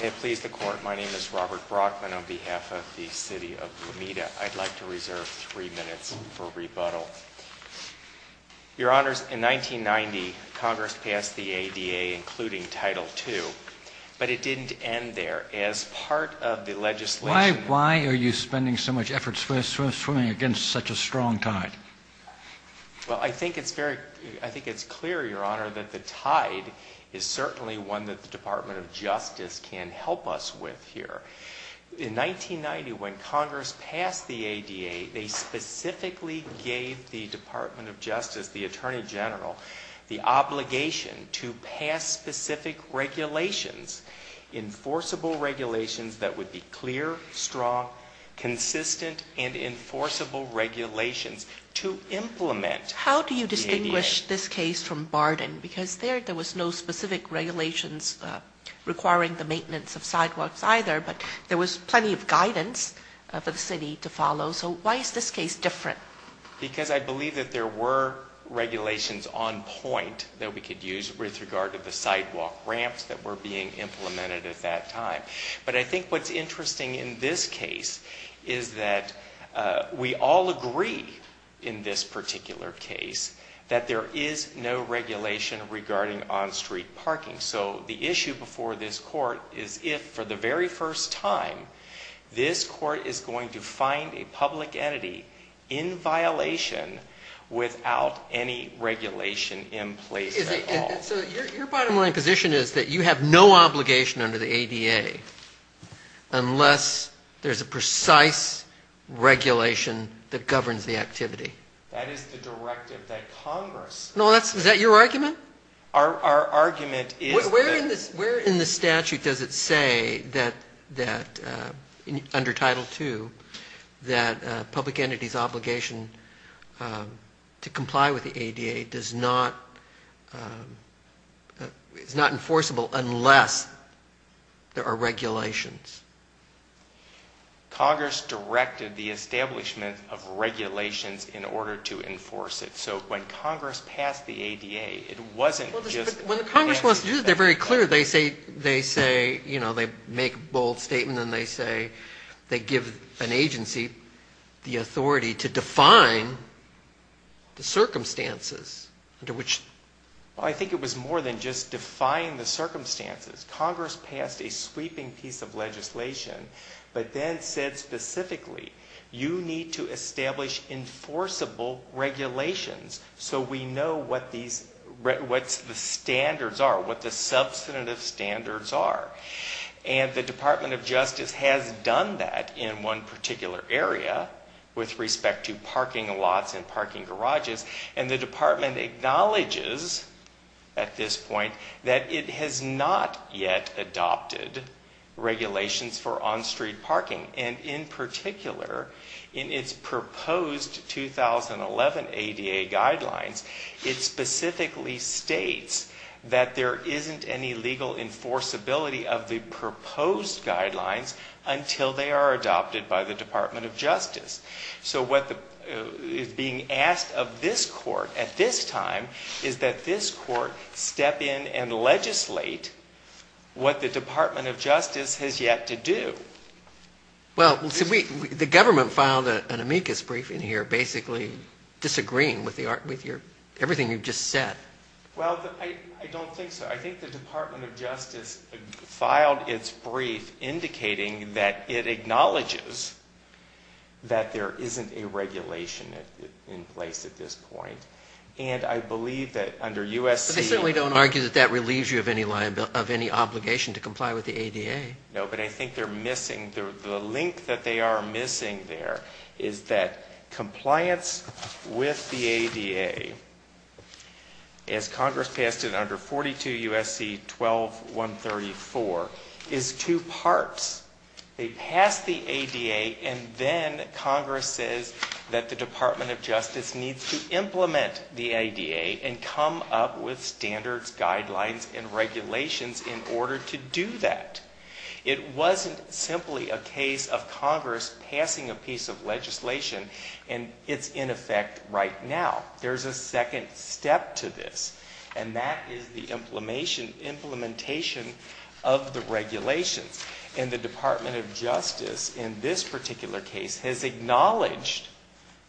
May it please the Court, my name is Robert Brockman on behalf of the City of Lomita. I'd like to reserve three minutes for rebuttal. Your Honors, in 1990, Congress passed the ADA, including Title II, but it didn't end there. As part of the legislation... Why are you spending so much effort swimming against such a strong tide? Well, I think it's very... I think it's clear, Your Honor, that the tide is certainly one that the Department of Justice can help us with here. In 1990, when Congress passed the ADA, they specifically gave the Department of Justice, the Attorney General, the obligation to pass specific regulations, enforceable regulations that would be clear, strong, consistent, and enforceable regulations to implement the ADA. How do you distinguish this case from Barden? Because there, there was no specific regulations requiring the maintenance of sidewalks either, but there was plenty of guidance for the City to follow. So why is this case different? Because I believe that there were regulations on point that we could use with regard to the sidewalk ramps that were being implemented at that time. But I think what's interesting in this case is that we all agree in this particular case that there is no regulation regarding on-street parking. So the issue before this Court is if, for the very first time, this Court is going to find a public entity in violation without any regulation in place at all. So your bottom line position is that you have no obligation under the ADA unless there's a precise regulation that governs the activity? That is the directive that Congress... No, is that your argument? Our argument is that... Where in the statute does it say that, under Title II, that a public entity's obligation to comply with the ADA is not enforceable unless there are regulations? Congress directed the establishment of regulations in order to enforce it. So when Congress passed the ADA, it wasn't just... But when Congress wants to do that, they're very clear. They say, you know, they make a bold statement and they say they give an agency the authority to define the circumstances under which... Well, I think it was more than just define the circumstances. Congress passed a sweeping piece of legislation, but then said specifically, you need to establish enforceable regulations so we know what the standards are, what the substantive standards are. And the Department of Justice has done that in one particular area with respect to parking lots and parking garages, and the department acknowledges at this point that it has not yet adopted regulations for on-street parking. And in particular, in its proposed 2011 ADA guidelines, it specifically states that there isn't any legal enforceability of the proposed guidelines until they are adopted by the Department of Justice. So what is being asked of this Court at this time is that this Court step in and legislate what the Department of Justice has yet to do. Well, the government filed an amicus brief in here basically disagreeing with everything you've just said. Well, I don't think so. I think the Department of Justice filed its brief indicating that it acknowledges that there isn't a regulation in place at this point. And I believe that under USC... But they certainly don't argue that that relieves you of any obligation to comply with the ADA. No, but I think they're missing, the link that they are missing there is that compliance with the ADA, as Congress passed it under 42 USC 12-134, is two parts. They passed the ADA, and then Congress says that the Department of Justice needs to implement the ADA and come up with standards, guidelines, and regulations in order to do that. It wasn't simply a case of Congress passing a piece of legislation, and it's in effect right now. There's a second step to this, and that is the implementation of the regulations. And the Department of Justice in this particular case has acknowledged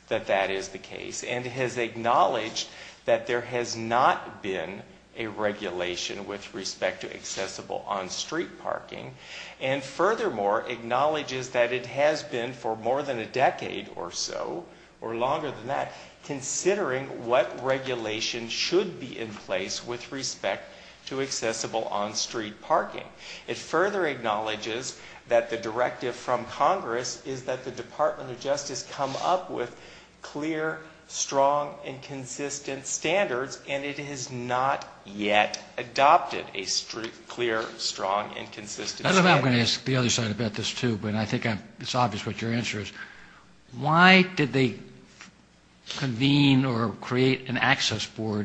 that that is the case, and has acknowledged that there has not been a regulation with respect to accessible on-street parking. And furthermore, acknowledges that it has been for more than a decade or so, or longer than that, considering what regulation should be in place with respect to accessible on-street parking. It further acknowledges that the directive from Congress is that the Department of Justice come up with clear, strong, and consistent standards, and it has not yet adopted a clear, strong, and consistent standard. I don't know if I'm going to ask the other side about this, too, but I think it's obvious what your answer is. I mean, these members of the Access Board,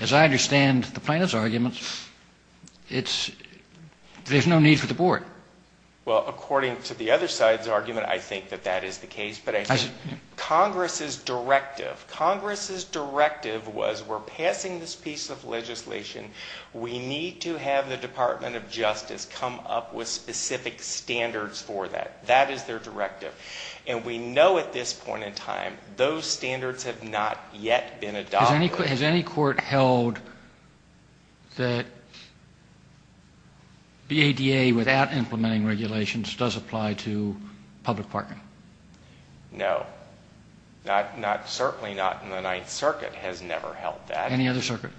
as I understand the plaintiff's argument, there's no need for the board. Well, according to the other side's argument, I think that that is the case. But I think Congress's directive, Congress's directive was we're passing this piece of legislation. We need to have the Department of Justice come up with specific standards for that. That is their directive. And we know at this point in time those standards have not yet been adopted. Has any court held that BADA without implementing regulations does apply to public parking? No. Certainly not in the Ninth Circuit has never held that. Any other circuit?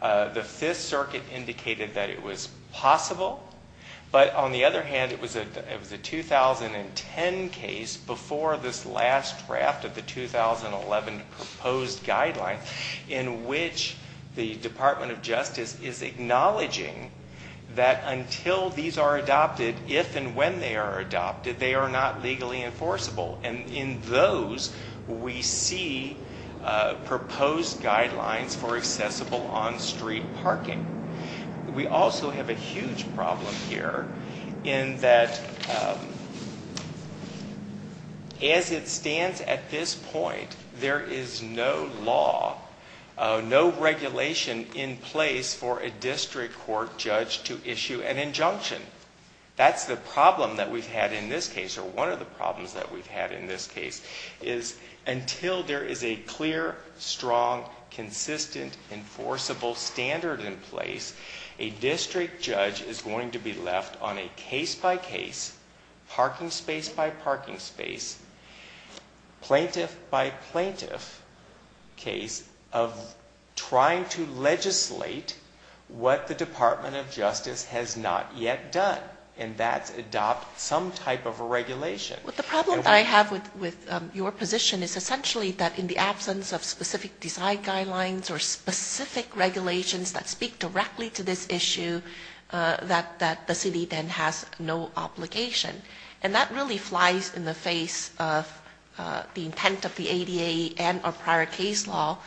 The Fifth Circuit indicated that it was possible. But on the other hand, it was a 2010 case before this last draft of the 2011 proposed guideline in which the Department of Justice is acknowledging that until these are adopted, if and when they are adopted, they are not legally enforceable. And in those, we see proposed guidelines for accessible on-street parking. We also have a huge problem here in that as it stands at this point, there is no law, no regulation in place for a district court judge to issue an injunction. That's the problem that we've had in this case, or one of the problems that we've had in this case, is until there is a clear, strong, consistent, enforceable standard in place, a district judge is going to be left on a case-by-case, parking space-by-parking space, plaintiff-by-plaintiff case of trying to legislate what the Department of Justice has not yet done. And that's adopt some type of a regulation. But the problem that I have with your position is essentially that in the absence of specific design guidelines or specific regulations that speak directly to this issue, that the city then has no obligation. And that really flies in the face of the intent of the ADA and our prior case law,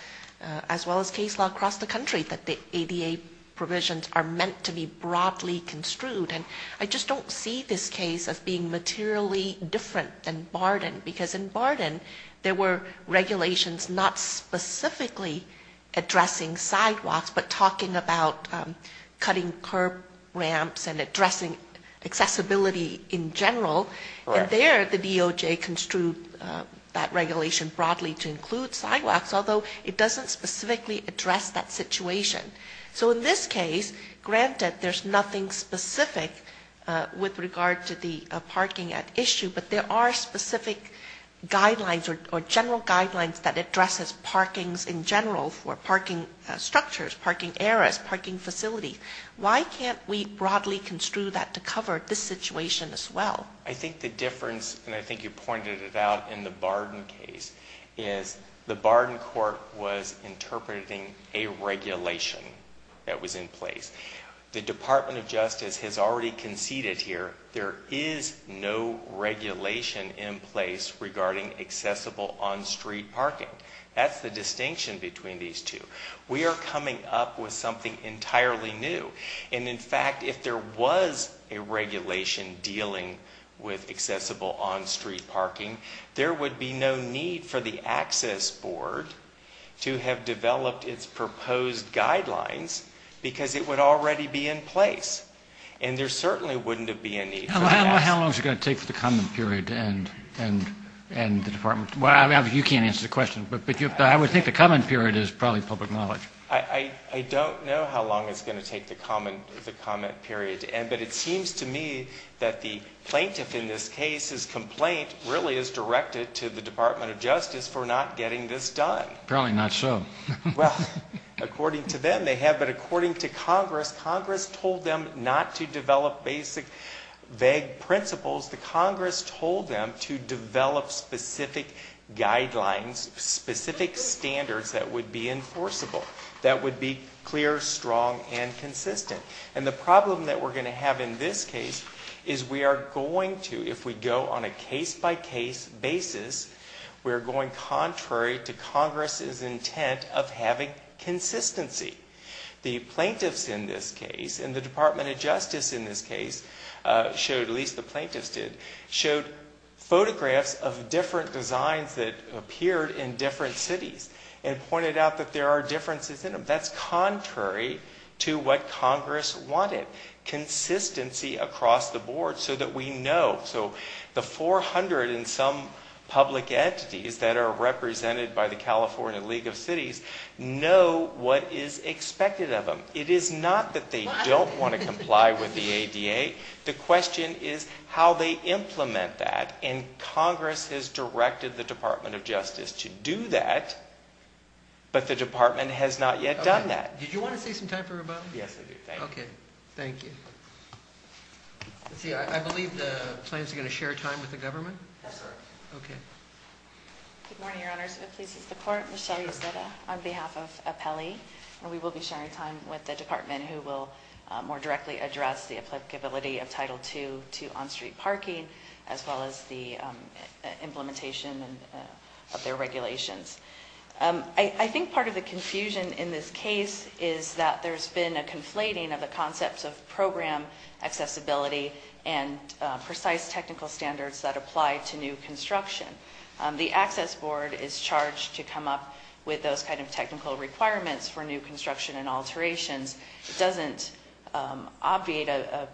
as well as case law across the country, that the ADA provisions are meant to be broadly construed. And I just don't see this case as being materially different than Barden, because in Barden, there were regulations not specifically addressing sidewalks, but talking about cutting curb ramps and addressing accessibility in general. And there, the DOJ construed that regulation broadly to include sidewalks, although it doesn't specifically address that situation. So in this case, granted, there's nothing specific with regard to the parking issue, but there are specific guidelines or general guidelines that address parking in general for parking structures, parking areas, parking facilities. Why can't we broadly construe that to cover this situation as well? I think the difference, and I think you pointed it out in the Barden case, is the Barden court was interpreting a regulation that was in place. The Department of Justice has already conceded here there is no regulation in place regarding accessible on-street parking. That's the distinction between these two. We are coming up with something entirely new. And, in fact, if there was a regulation dealing with accessible on-street parking, there would be no need for the Access Board to have developed its proposed guidelines, because it would already be in place. And there certainly wouldn't have been a need for that. How long is it going to take for the comment period and the department? You can't answer the question, but I would think the comment period is probably public knowledge. I don't know how long it's going to take the comment period, but it seems to me that the plaintiff in this case's complaint really is directed to the Department of Justice for not getting this done. Apparently not so. Well, according to them they have, but according to Congress, Congress told them not to develop basic vague principles. Congress told them to develop specific guidelines, specific standards that would be enforceable, that would be clear, strong, and consistent. And the problem that we're going to have in this case is we are going to, if we go on a case-by-case basis, we are going contrary to Congress's intent of having consistency. The plaintiffs in this case and the Department of Justice in this case showed, at least the plaintiffs did, showed photographs of different designs that appeared in different cities and pointed out that there are differences in them. That's contrary to what Congress wanted, consistency across the board so that we know. So the 400 and some public entities that are represented by the California League of Cities know what is expected of them. It is not that they don't want to comply with the ADA. The question is how they implement that, and Congress has directed the Department of Justice to do that, but the Department has not yet done that. Did you want to say some time for rebuttal? Yes, I do. Thank you. Okay. Thank you. Let's see, I believe the plaintiffs are going to share time with the government? Yes, sir. Okay. Good morning, Your Honors. It pleases the Court. Michelle Yoseta on behalf of Apelli, and we will be sharing time with the Department who will more directly address the applicability of Title II to on-street parking as well as the implementation of their regulations. I think part of the confusion in this case is that there's been a conflating of the concepts of program accessibility and precise technical standards that apply to new construction. The Access Board is charged to come up with those kind of technical requirements for new construction and alterations. It doesn't obviate a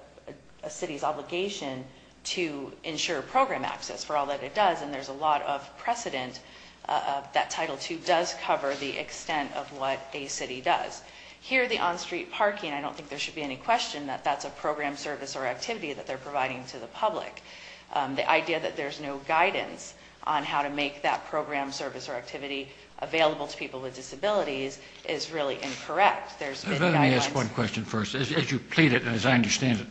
city's obligation to ensure program access for all that it does, and there's a lot of precedent that Title II does cover the extent of what a city does. Here, the on-street parking, I don't think there should be any question that that's a program, service, or activity that they're providing to the public. The idea that there's no guidance on how to make that program, service, or activity available to people with disabilities is really incorrect. Let me ask one question first. As you pleaded, as I understand it,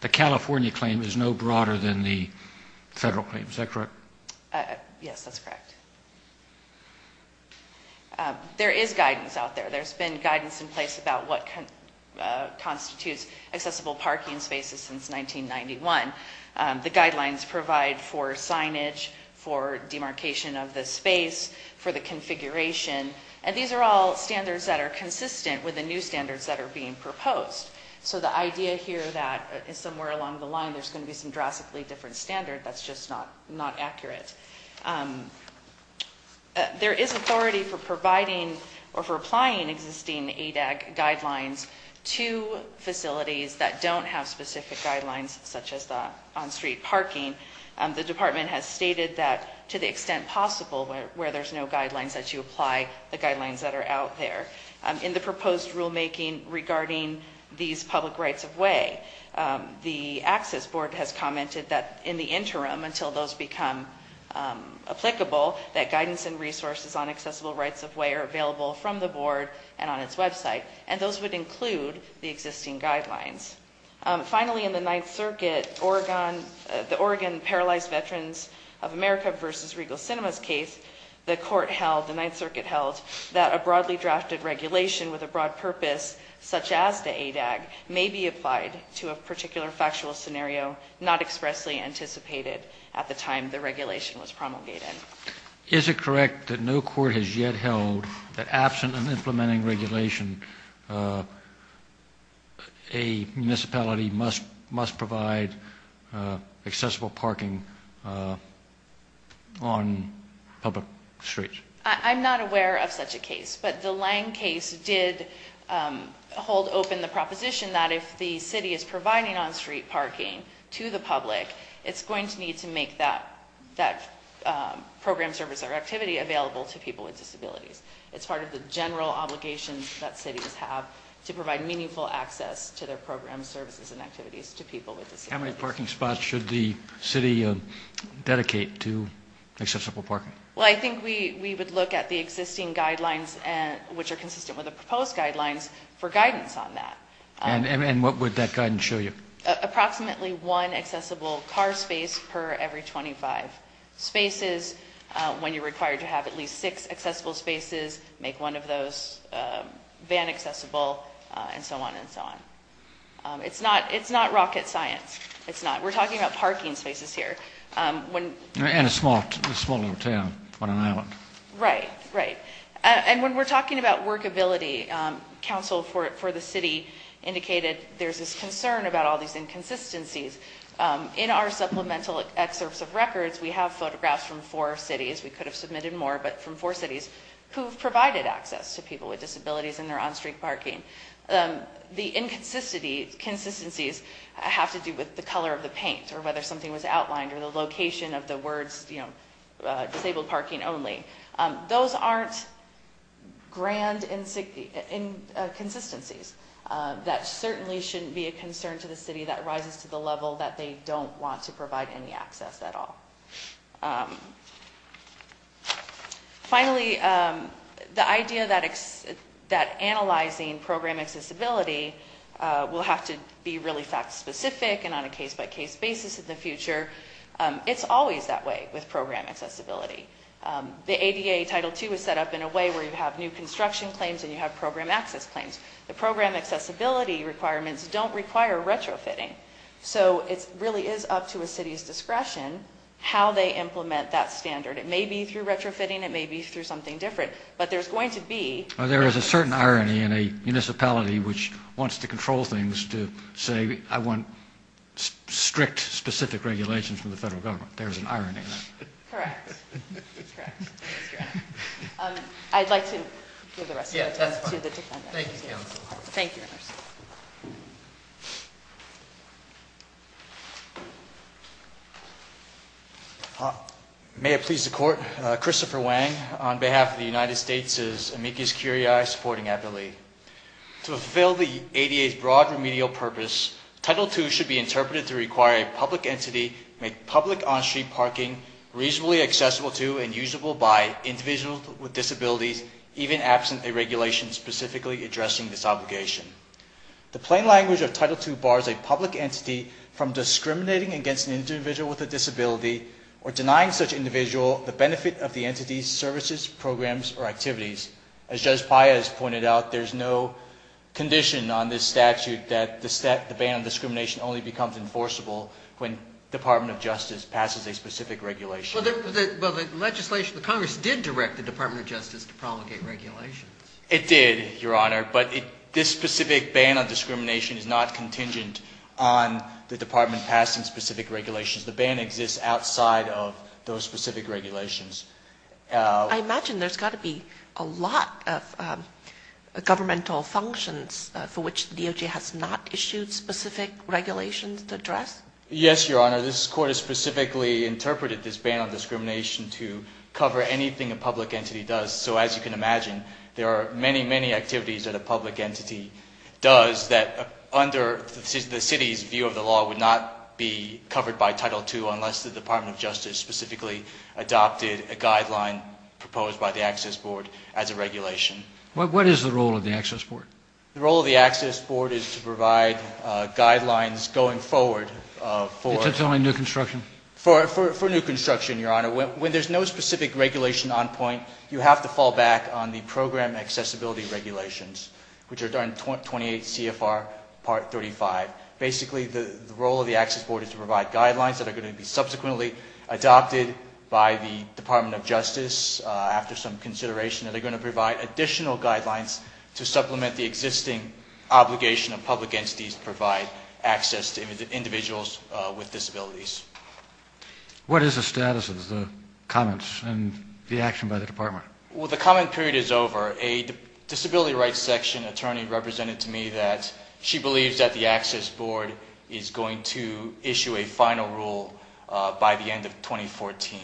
the California claim is no broader than the federal claim. Is that correct? Yes, that's correct. There is guidance out there. There's been guidance in place about what constitutes accessible parking spaces since 1991. The guidelines provide for signage, for demarcation of the space, for the configuration, and these are all standards that are consistent with the new standards that are being proposed. So the idea here that somewhere along the line there's going to be some drastically different standard, that's just not accurate. There is authority for providing or for applying existing ADAG guidelines to facilities that don't have specific guidelines such as the on-street parking. The department has stated that to the extent possible where there's no guidelines that you apply the guidelines that are out there. In the proposed rulemaking regarding these public rights-of-way, the access board has commented that in the interim until those become applicable, that guidance and resources on accessible rights-of-way are available from the board and on its website, and those would include the existing guidelines. Finally, in the Ninth Circuit, the Oregon Paralyzed Veterans of America v. Regal Cinemas case, the court held, the Ninth Circuit held, that a broadly drafted regulation with a broad purpose such as the ADAG may be applied to a particular factual scenario not expressly anticipated at the time the regulation was promulgated. Is it correct that no court has yet held that absent an implementing regulation, a municipality must provide accessible parking on public streets? I'm not aware of such a case, but the Lange case did hold open the proposition that if the city is providing on-street parking to the public, it's going to need to make that program, service, or activity available to people with disabilities. It's part of the general obligation that cities have to provide meaningful access to their programs, services, and activities to people with disabilities. How many parking spots should the city dedicate to accessible parking? Well, I think we would look at the existing guidelines, which are consistent with the proposed guidelines, for guidance on that. And what would that guidance show you? Approximately one accessible car space per every 25 spaces. When you're required to have at least six accessible spaces, make one of those van accessible, and so on and so on. It's not rocket science. It's not. We're talking about parking spaces here. And a small little town on an island. Right, right. And when we're talking about workability, council for the city indicated there's this concern about all these inconsistencies. In our supplemental excerpts of records, we have photographs from four cities. We could have submitted more, but from four cities who have provided access to people with disabilities in their on-street parking. The inconsistencies have to do with the color of the paint, or whether something was outlined, or the location of the words, you know, disabled parking only. Those aren't grand inconsistencies. That certainly shouldn't be a concern to the city that rises to the level that they don't want to provide any access at all. Finally, the idea that analyzing program accessibility will have to be really fact-specific and on a case-by-case basis in the future. It's always that way with program accessibility. The ADA Title II is set up in a way where you have new construction claims and you have program access claims. The program accessibility requirements don't require retrofitting. So it really is up to a city's discretion how they implement that standard. It may be through retrofitting, it may be through something different, but there's going to be... There is a certain irony in a municipality which wants to control things to say, I want strict, specific regulations from the federal government. There's an irony in that. Correct. That's correct. I'd like to give the rest of the time to the defendant. Thank you, council. Thank you. May it please the court. Christopher Wang on behalf of the United States' amicus curiae, supporting Eppley. To fulfill the ADA's broad remedial purpose, Title II should be interpreted to require a public entity make public on-street parking reasonably accessible to and usable by individuals with disabilities, even absent a regulation specifically addressing this obligation. The plain language of Title II bars a public entity from discriminating against an individual with a disability or denying such individual the benefit of the entity's services, programs, or activities. As Judge Paya has pointed out, there's no condition on this statute that the ban on discrimination only becomes enforceable when the Department of Justice passes a specific regulation. Well, the legislation... The Congress did direct the Department of Justice to promulgate regulations. It did, Your Honor, but this specific ban on discrimination is not contingent on the Department passing specific regulations. The ban exists outside of those specific regulations. I imagine there's got to be a lot of governmental functions for which the DOJ has not issued specific regulations to address. Yes, Your Honor. This Court has specifically interpreted this ban on discrimination to cover anything a public entity does. So as you can imagine, there are many, many activities that a public entity does that under the city's view of the law would not be covered by Title II unless the Department of Justice specifically adopted a guideline proposed by the Access Board as a regulation. What is the role of the Access Board? The role of the Access Board is to provide guidelines going forward for... Except only new construction. For new construction, Your Honor. When there's no specific regulation on point, you have to fall back on the Program Accessibility Regulations, which are under 28 CFR Part 35. Basically, the role of the Access Board is to provide guidelines that are going to be subsequently adopted by the Department of Justice after some consideration, and they're going to provide additional guidelines to supplement the existing obligation of public entities to provide access to individuals with disabilities. What is the status of the comments and the action by the Department? Well, the comment period is over. A disability rights section attorney represented to me that she believes that the Access Board is going to issue a final rule by the end of 2014,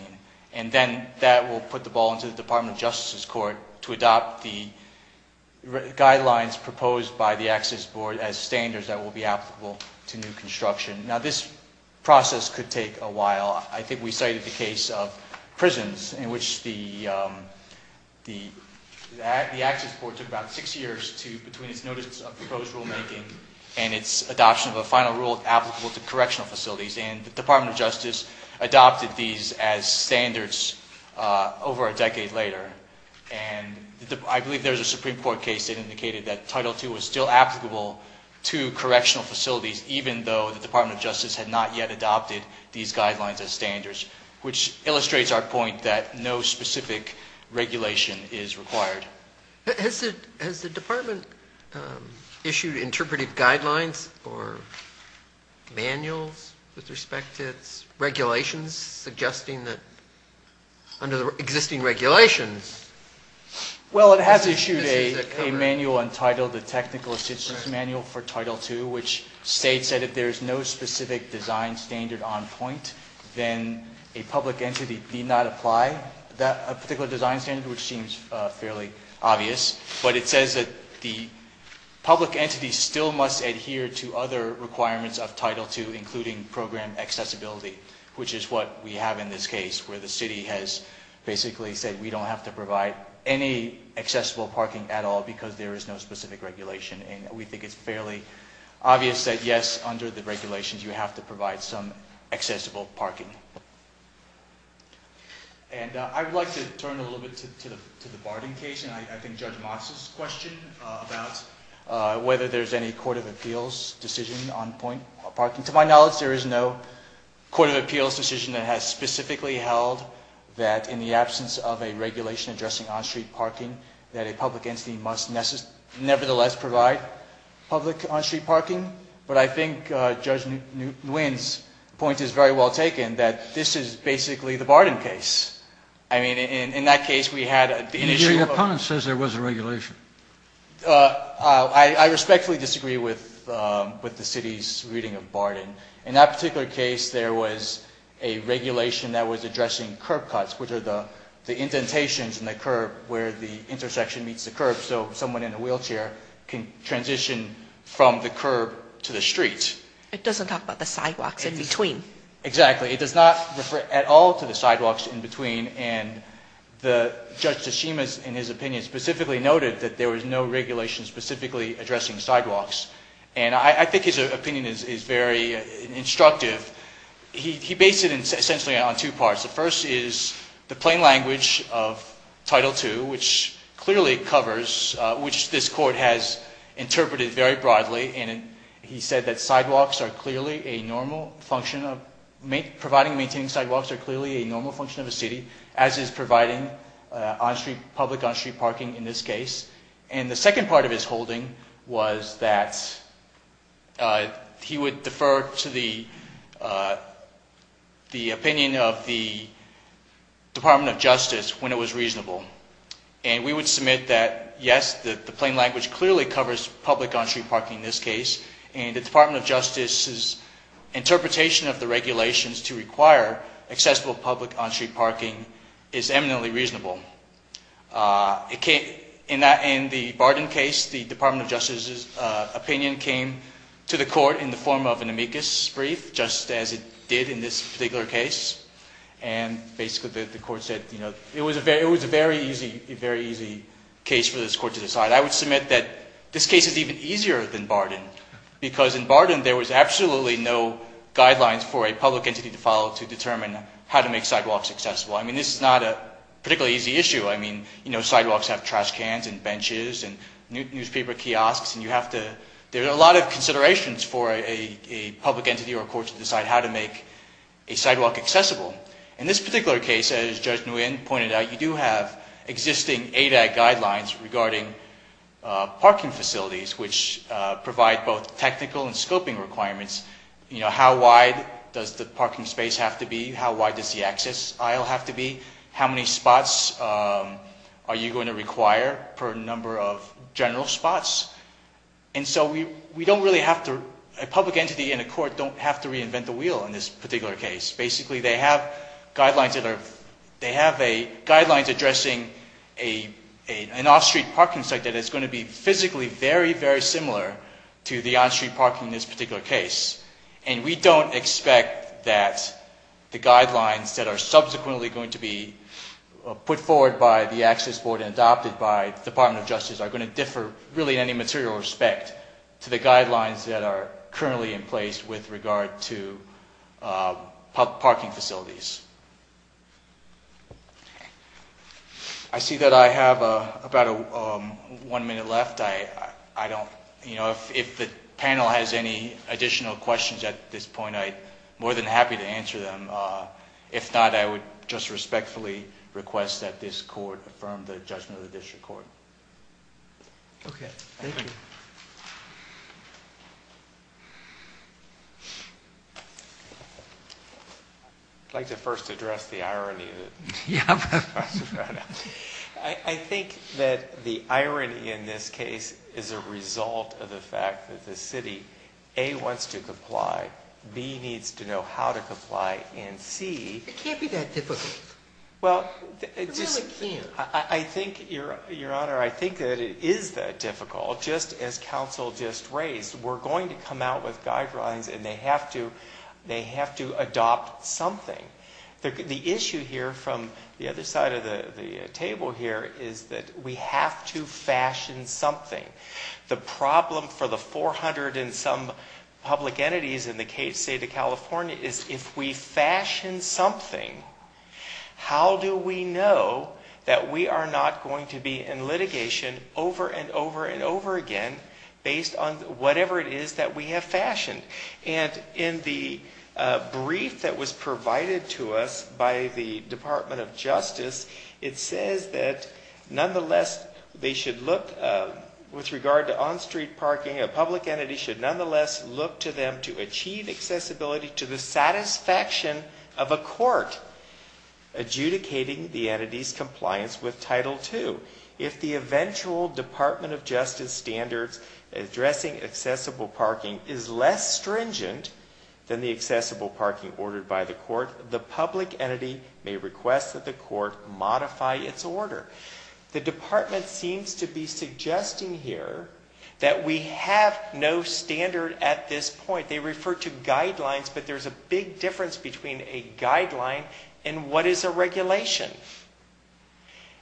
and then that will put the ball into the Department of Justice's court to adopt the guidelines proposed by the Access Board as standards that will be applicable to new construction. Now, this process could take a while. I think we cited the case of prisons in which the Access Board took about six years between its notice of proposed rulemaking and its adoption of a final rule applicable to correctional facilities, and the Department of Justice adopted these as standards over a decade later. And I believe there was a Supreme Court case that indicated that Title II was still applicable to correctional facilities, even though the Department of Justice had not yet adopted these guidelines as standards, which illustrates our point that no specific regulation is required. Has the Department issued interpretive guidelines or manuals with respect to its regulations, suggesting that under the existing regulations? Well, it has issued a manual entitled the Technical Assistance Manual for Title II, which states that if there is no specific design standard on point, then a public entity need not apply a particular design standard, which seems fairly obvious. But it says that the public entity still must adhere to other requirements of Title II, including program accessibility, which is what we have in this case, where the city has basically said we don't have to provide any accessible parking at all because there is no specific regulation. And we think it's fairly obvious that, yes, under the regulations, you have to provide some accessible parking. And I would like to turn a little bit to the Barton case and I think Judge Motz's question about whether there's any court of appeals decision on point parking. To my knowledge, there is no court of appeals decision that has specifically held that in the absence of a regulation addressing on-street parking, that a public entity must nevertheless provide public on-street parking. But I think Judge Nguyen's point is very well taken, that this is basically the Barton case. I mean, in that case, we had an issue. Your opponent says there was a regulation. I respectfully disagree with the city's reading of Barton. In that particular case, there was a regulation that was addressing curb cuts, which are the indentations in the curb where the intersection meets the curb, so someone in a wheelchair can transition from the curb to the street. It doesn't talk about the sidewalks in between. Exactly. It does not refer at all to the sidewalks in between. And Judge Tsushima, in his opinion, specifically noted that there was no regulation specifically addressing sidewalks. And I think his opinion is very instructive. He based it essentially on two parts. The first is the plain language of Title II, which clearly covers, which this court has interpreted very broadly, and he said that providing and maintaining sidewalks are clearly a normal function of a city, as is providing public on-street parking in this case. And the second part of his holding was that he would defer to the opinion of the Department of Justice when it was reasonable. And we would submit that, yes, the plain language clearly covers public on-street parking in this case, and the Department of Justice's interpretation of the regulations to require accessible public on-street parking is eminently reasonable. In the Barton case, the Department of Justice's opinion came to the court in the form of an amicus brief, just as it did in this particular case. And basically the court said, you know, it was a very easy case for this court to decide. I would submit that this case is even easier than Barton, because in Barton there was absolutely no guidelines for a public entity to follow to determine how to make sidewalks accessible. I mean, this is not a particularly easy issue. I mean, you know, sidewalks have trash cans and benches and newspaper kiosks, and you have to – there are a lot of considerations for a public entity or a court to decide how to make a sidewalk accessible. In this particular case, as Judge Nguyen pointed out, you do have existing ADOT guidelines regarding parking facilities, which provide both technical and scoping requirements. You know, how wide does the parking space have to be? How wide does the access aisle have to be? How many spots are you going to require per number of general spots? And so we don't really have to – a public entity and a court don't have to reinvent the wheel in this particular case. Basically, they have guidelines that are – they have guidelines addressing an off-street parking site that is going to be physically very, very similar to the on-street parking in this particular case. And we don't expect that the guidelines that are subsequently going to be put forward by the Access Board and adopted by the Department of Justice are going to differ really in any material respect to the guidelines that are currently in place with regard to parking facilities. I see that I have about one minute left. I don't – you know, if the panel has any additional questions at this point, I'm more than happy to answer them. If not, I would just respectfully request that this court affirm the judgment of the district court. Okay. Thank you. I'd like to first address the irony. I think that the irony in this case is a result of the fact that the city, A, wants to comply, B, needs to know how to comply, and C – It can't be that difficult. It really can't. I think, Your Honor, I think that it is that difficult. Just as counsel just raised, we're going to come out with guidelines and they have to adopt something. The issue here from the other side of the table here is that we have to fashion something. The problem for the 400 and some public entities in the state of California is if we fashion something, how do we know that we are not going to be in litigation over and over and over again based on whatever it is that we have fashioned? And in the brief that was provided to us by the Department of Justice, it says that nonetheless they should look, with regard to on-street parking, a public entity should nonetheless look to them to achieve accessibility to the satisfaction of a court adjudicating the entity's compliance with Title II. If the eventual Department of Justice standards addressing accessible parking is less stringent than the accessible parking ordered by the court, the public entity may request that the court modify its order. The department seems to be suggesting here that we have no standard at this point. They refer to guidelines, but there's a big difference between a guideline and what is a regulation.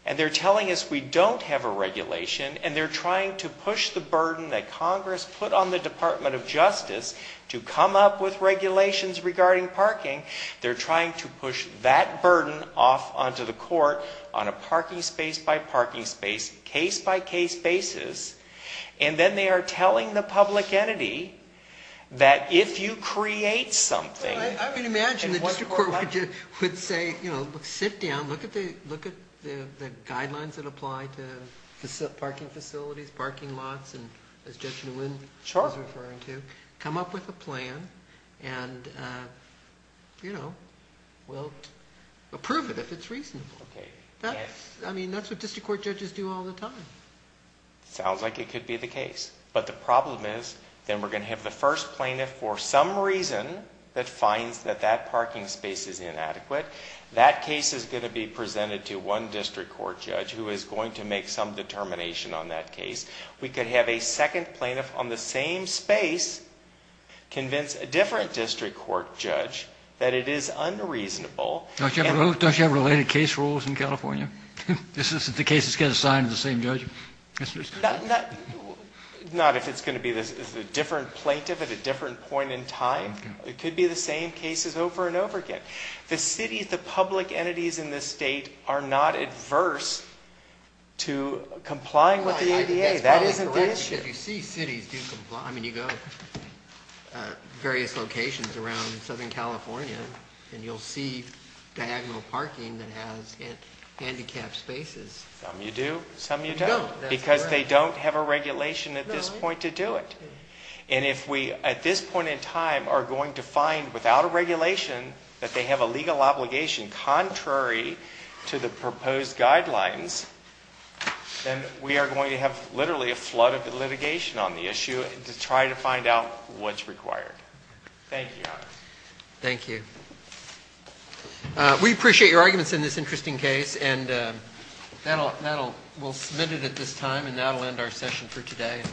And they're telling us we don't have a regulation, and they're trying to push the burden that Congress put on the Department of Justice to come up with regulations regarding parking. They're trying to push that burden off onto the court on a parking space by parking space, case by case basis. And then they are telling the public entity that if you create something... I mean, imagine the district court would say, you know, sit down, look at the guidelines that apply to parking facilities, parking lots, and as Judge Lewin was referring to, come up with a plan, and, you know, we'll approve it if it's reasonable. I mean, that's what district court judges do all the time. But the problem is then we're going to have the first plaintiff for some reason that finds that that parking space is inadequate. That case is going to be presented to one district court judge who is going to make some determination on that case. We could have a second plaintiff on the same space convince a different district court judge that it is unreasonable. Don't you have related case rules in California? The cases get assigned to the same judge? Not if it's going to be a different plaintiff at a different point in time. It could be the same cases over and over again. The city, the public entities in this state are not adverse to complying with the ADA. That isn't the issue. I mean, you go to various locations around Southern California, and you'll see diagonal parking that has handicapped spaces. Some you do, some you don't, because they don't have a regulation at this point to do it. And if we at this point in time are going to find without a regulation that they have a legal obligation contrary to the proposed guidelines, then we are going to have literally a flood of litigation on the issue to try to find out what's required. Thank you, Your Honor. Thank you. We appreciate your arguments in this interesting case, and that will submit it at this time, and that will end our session for today.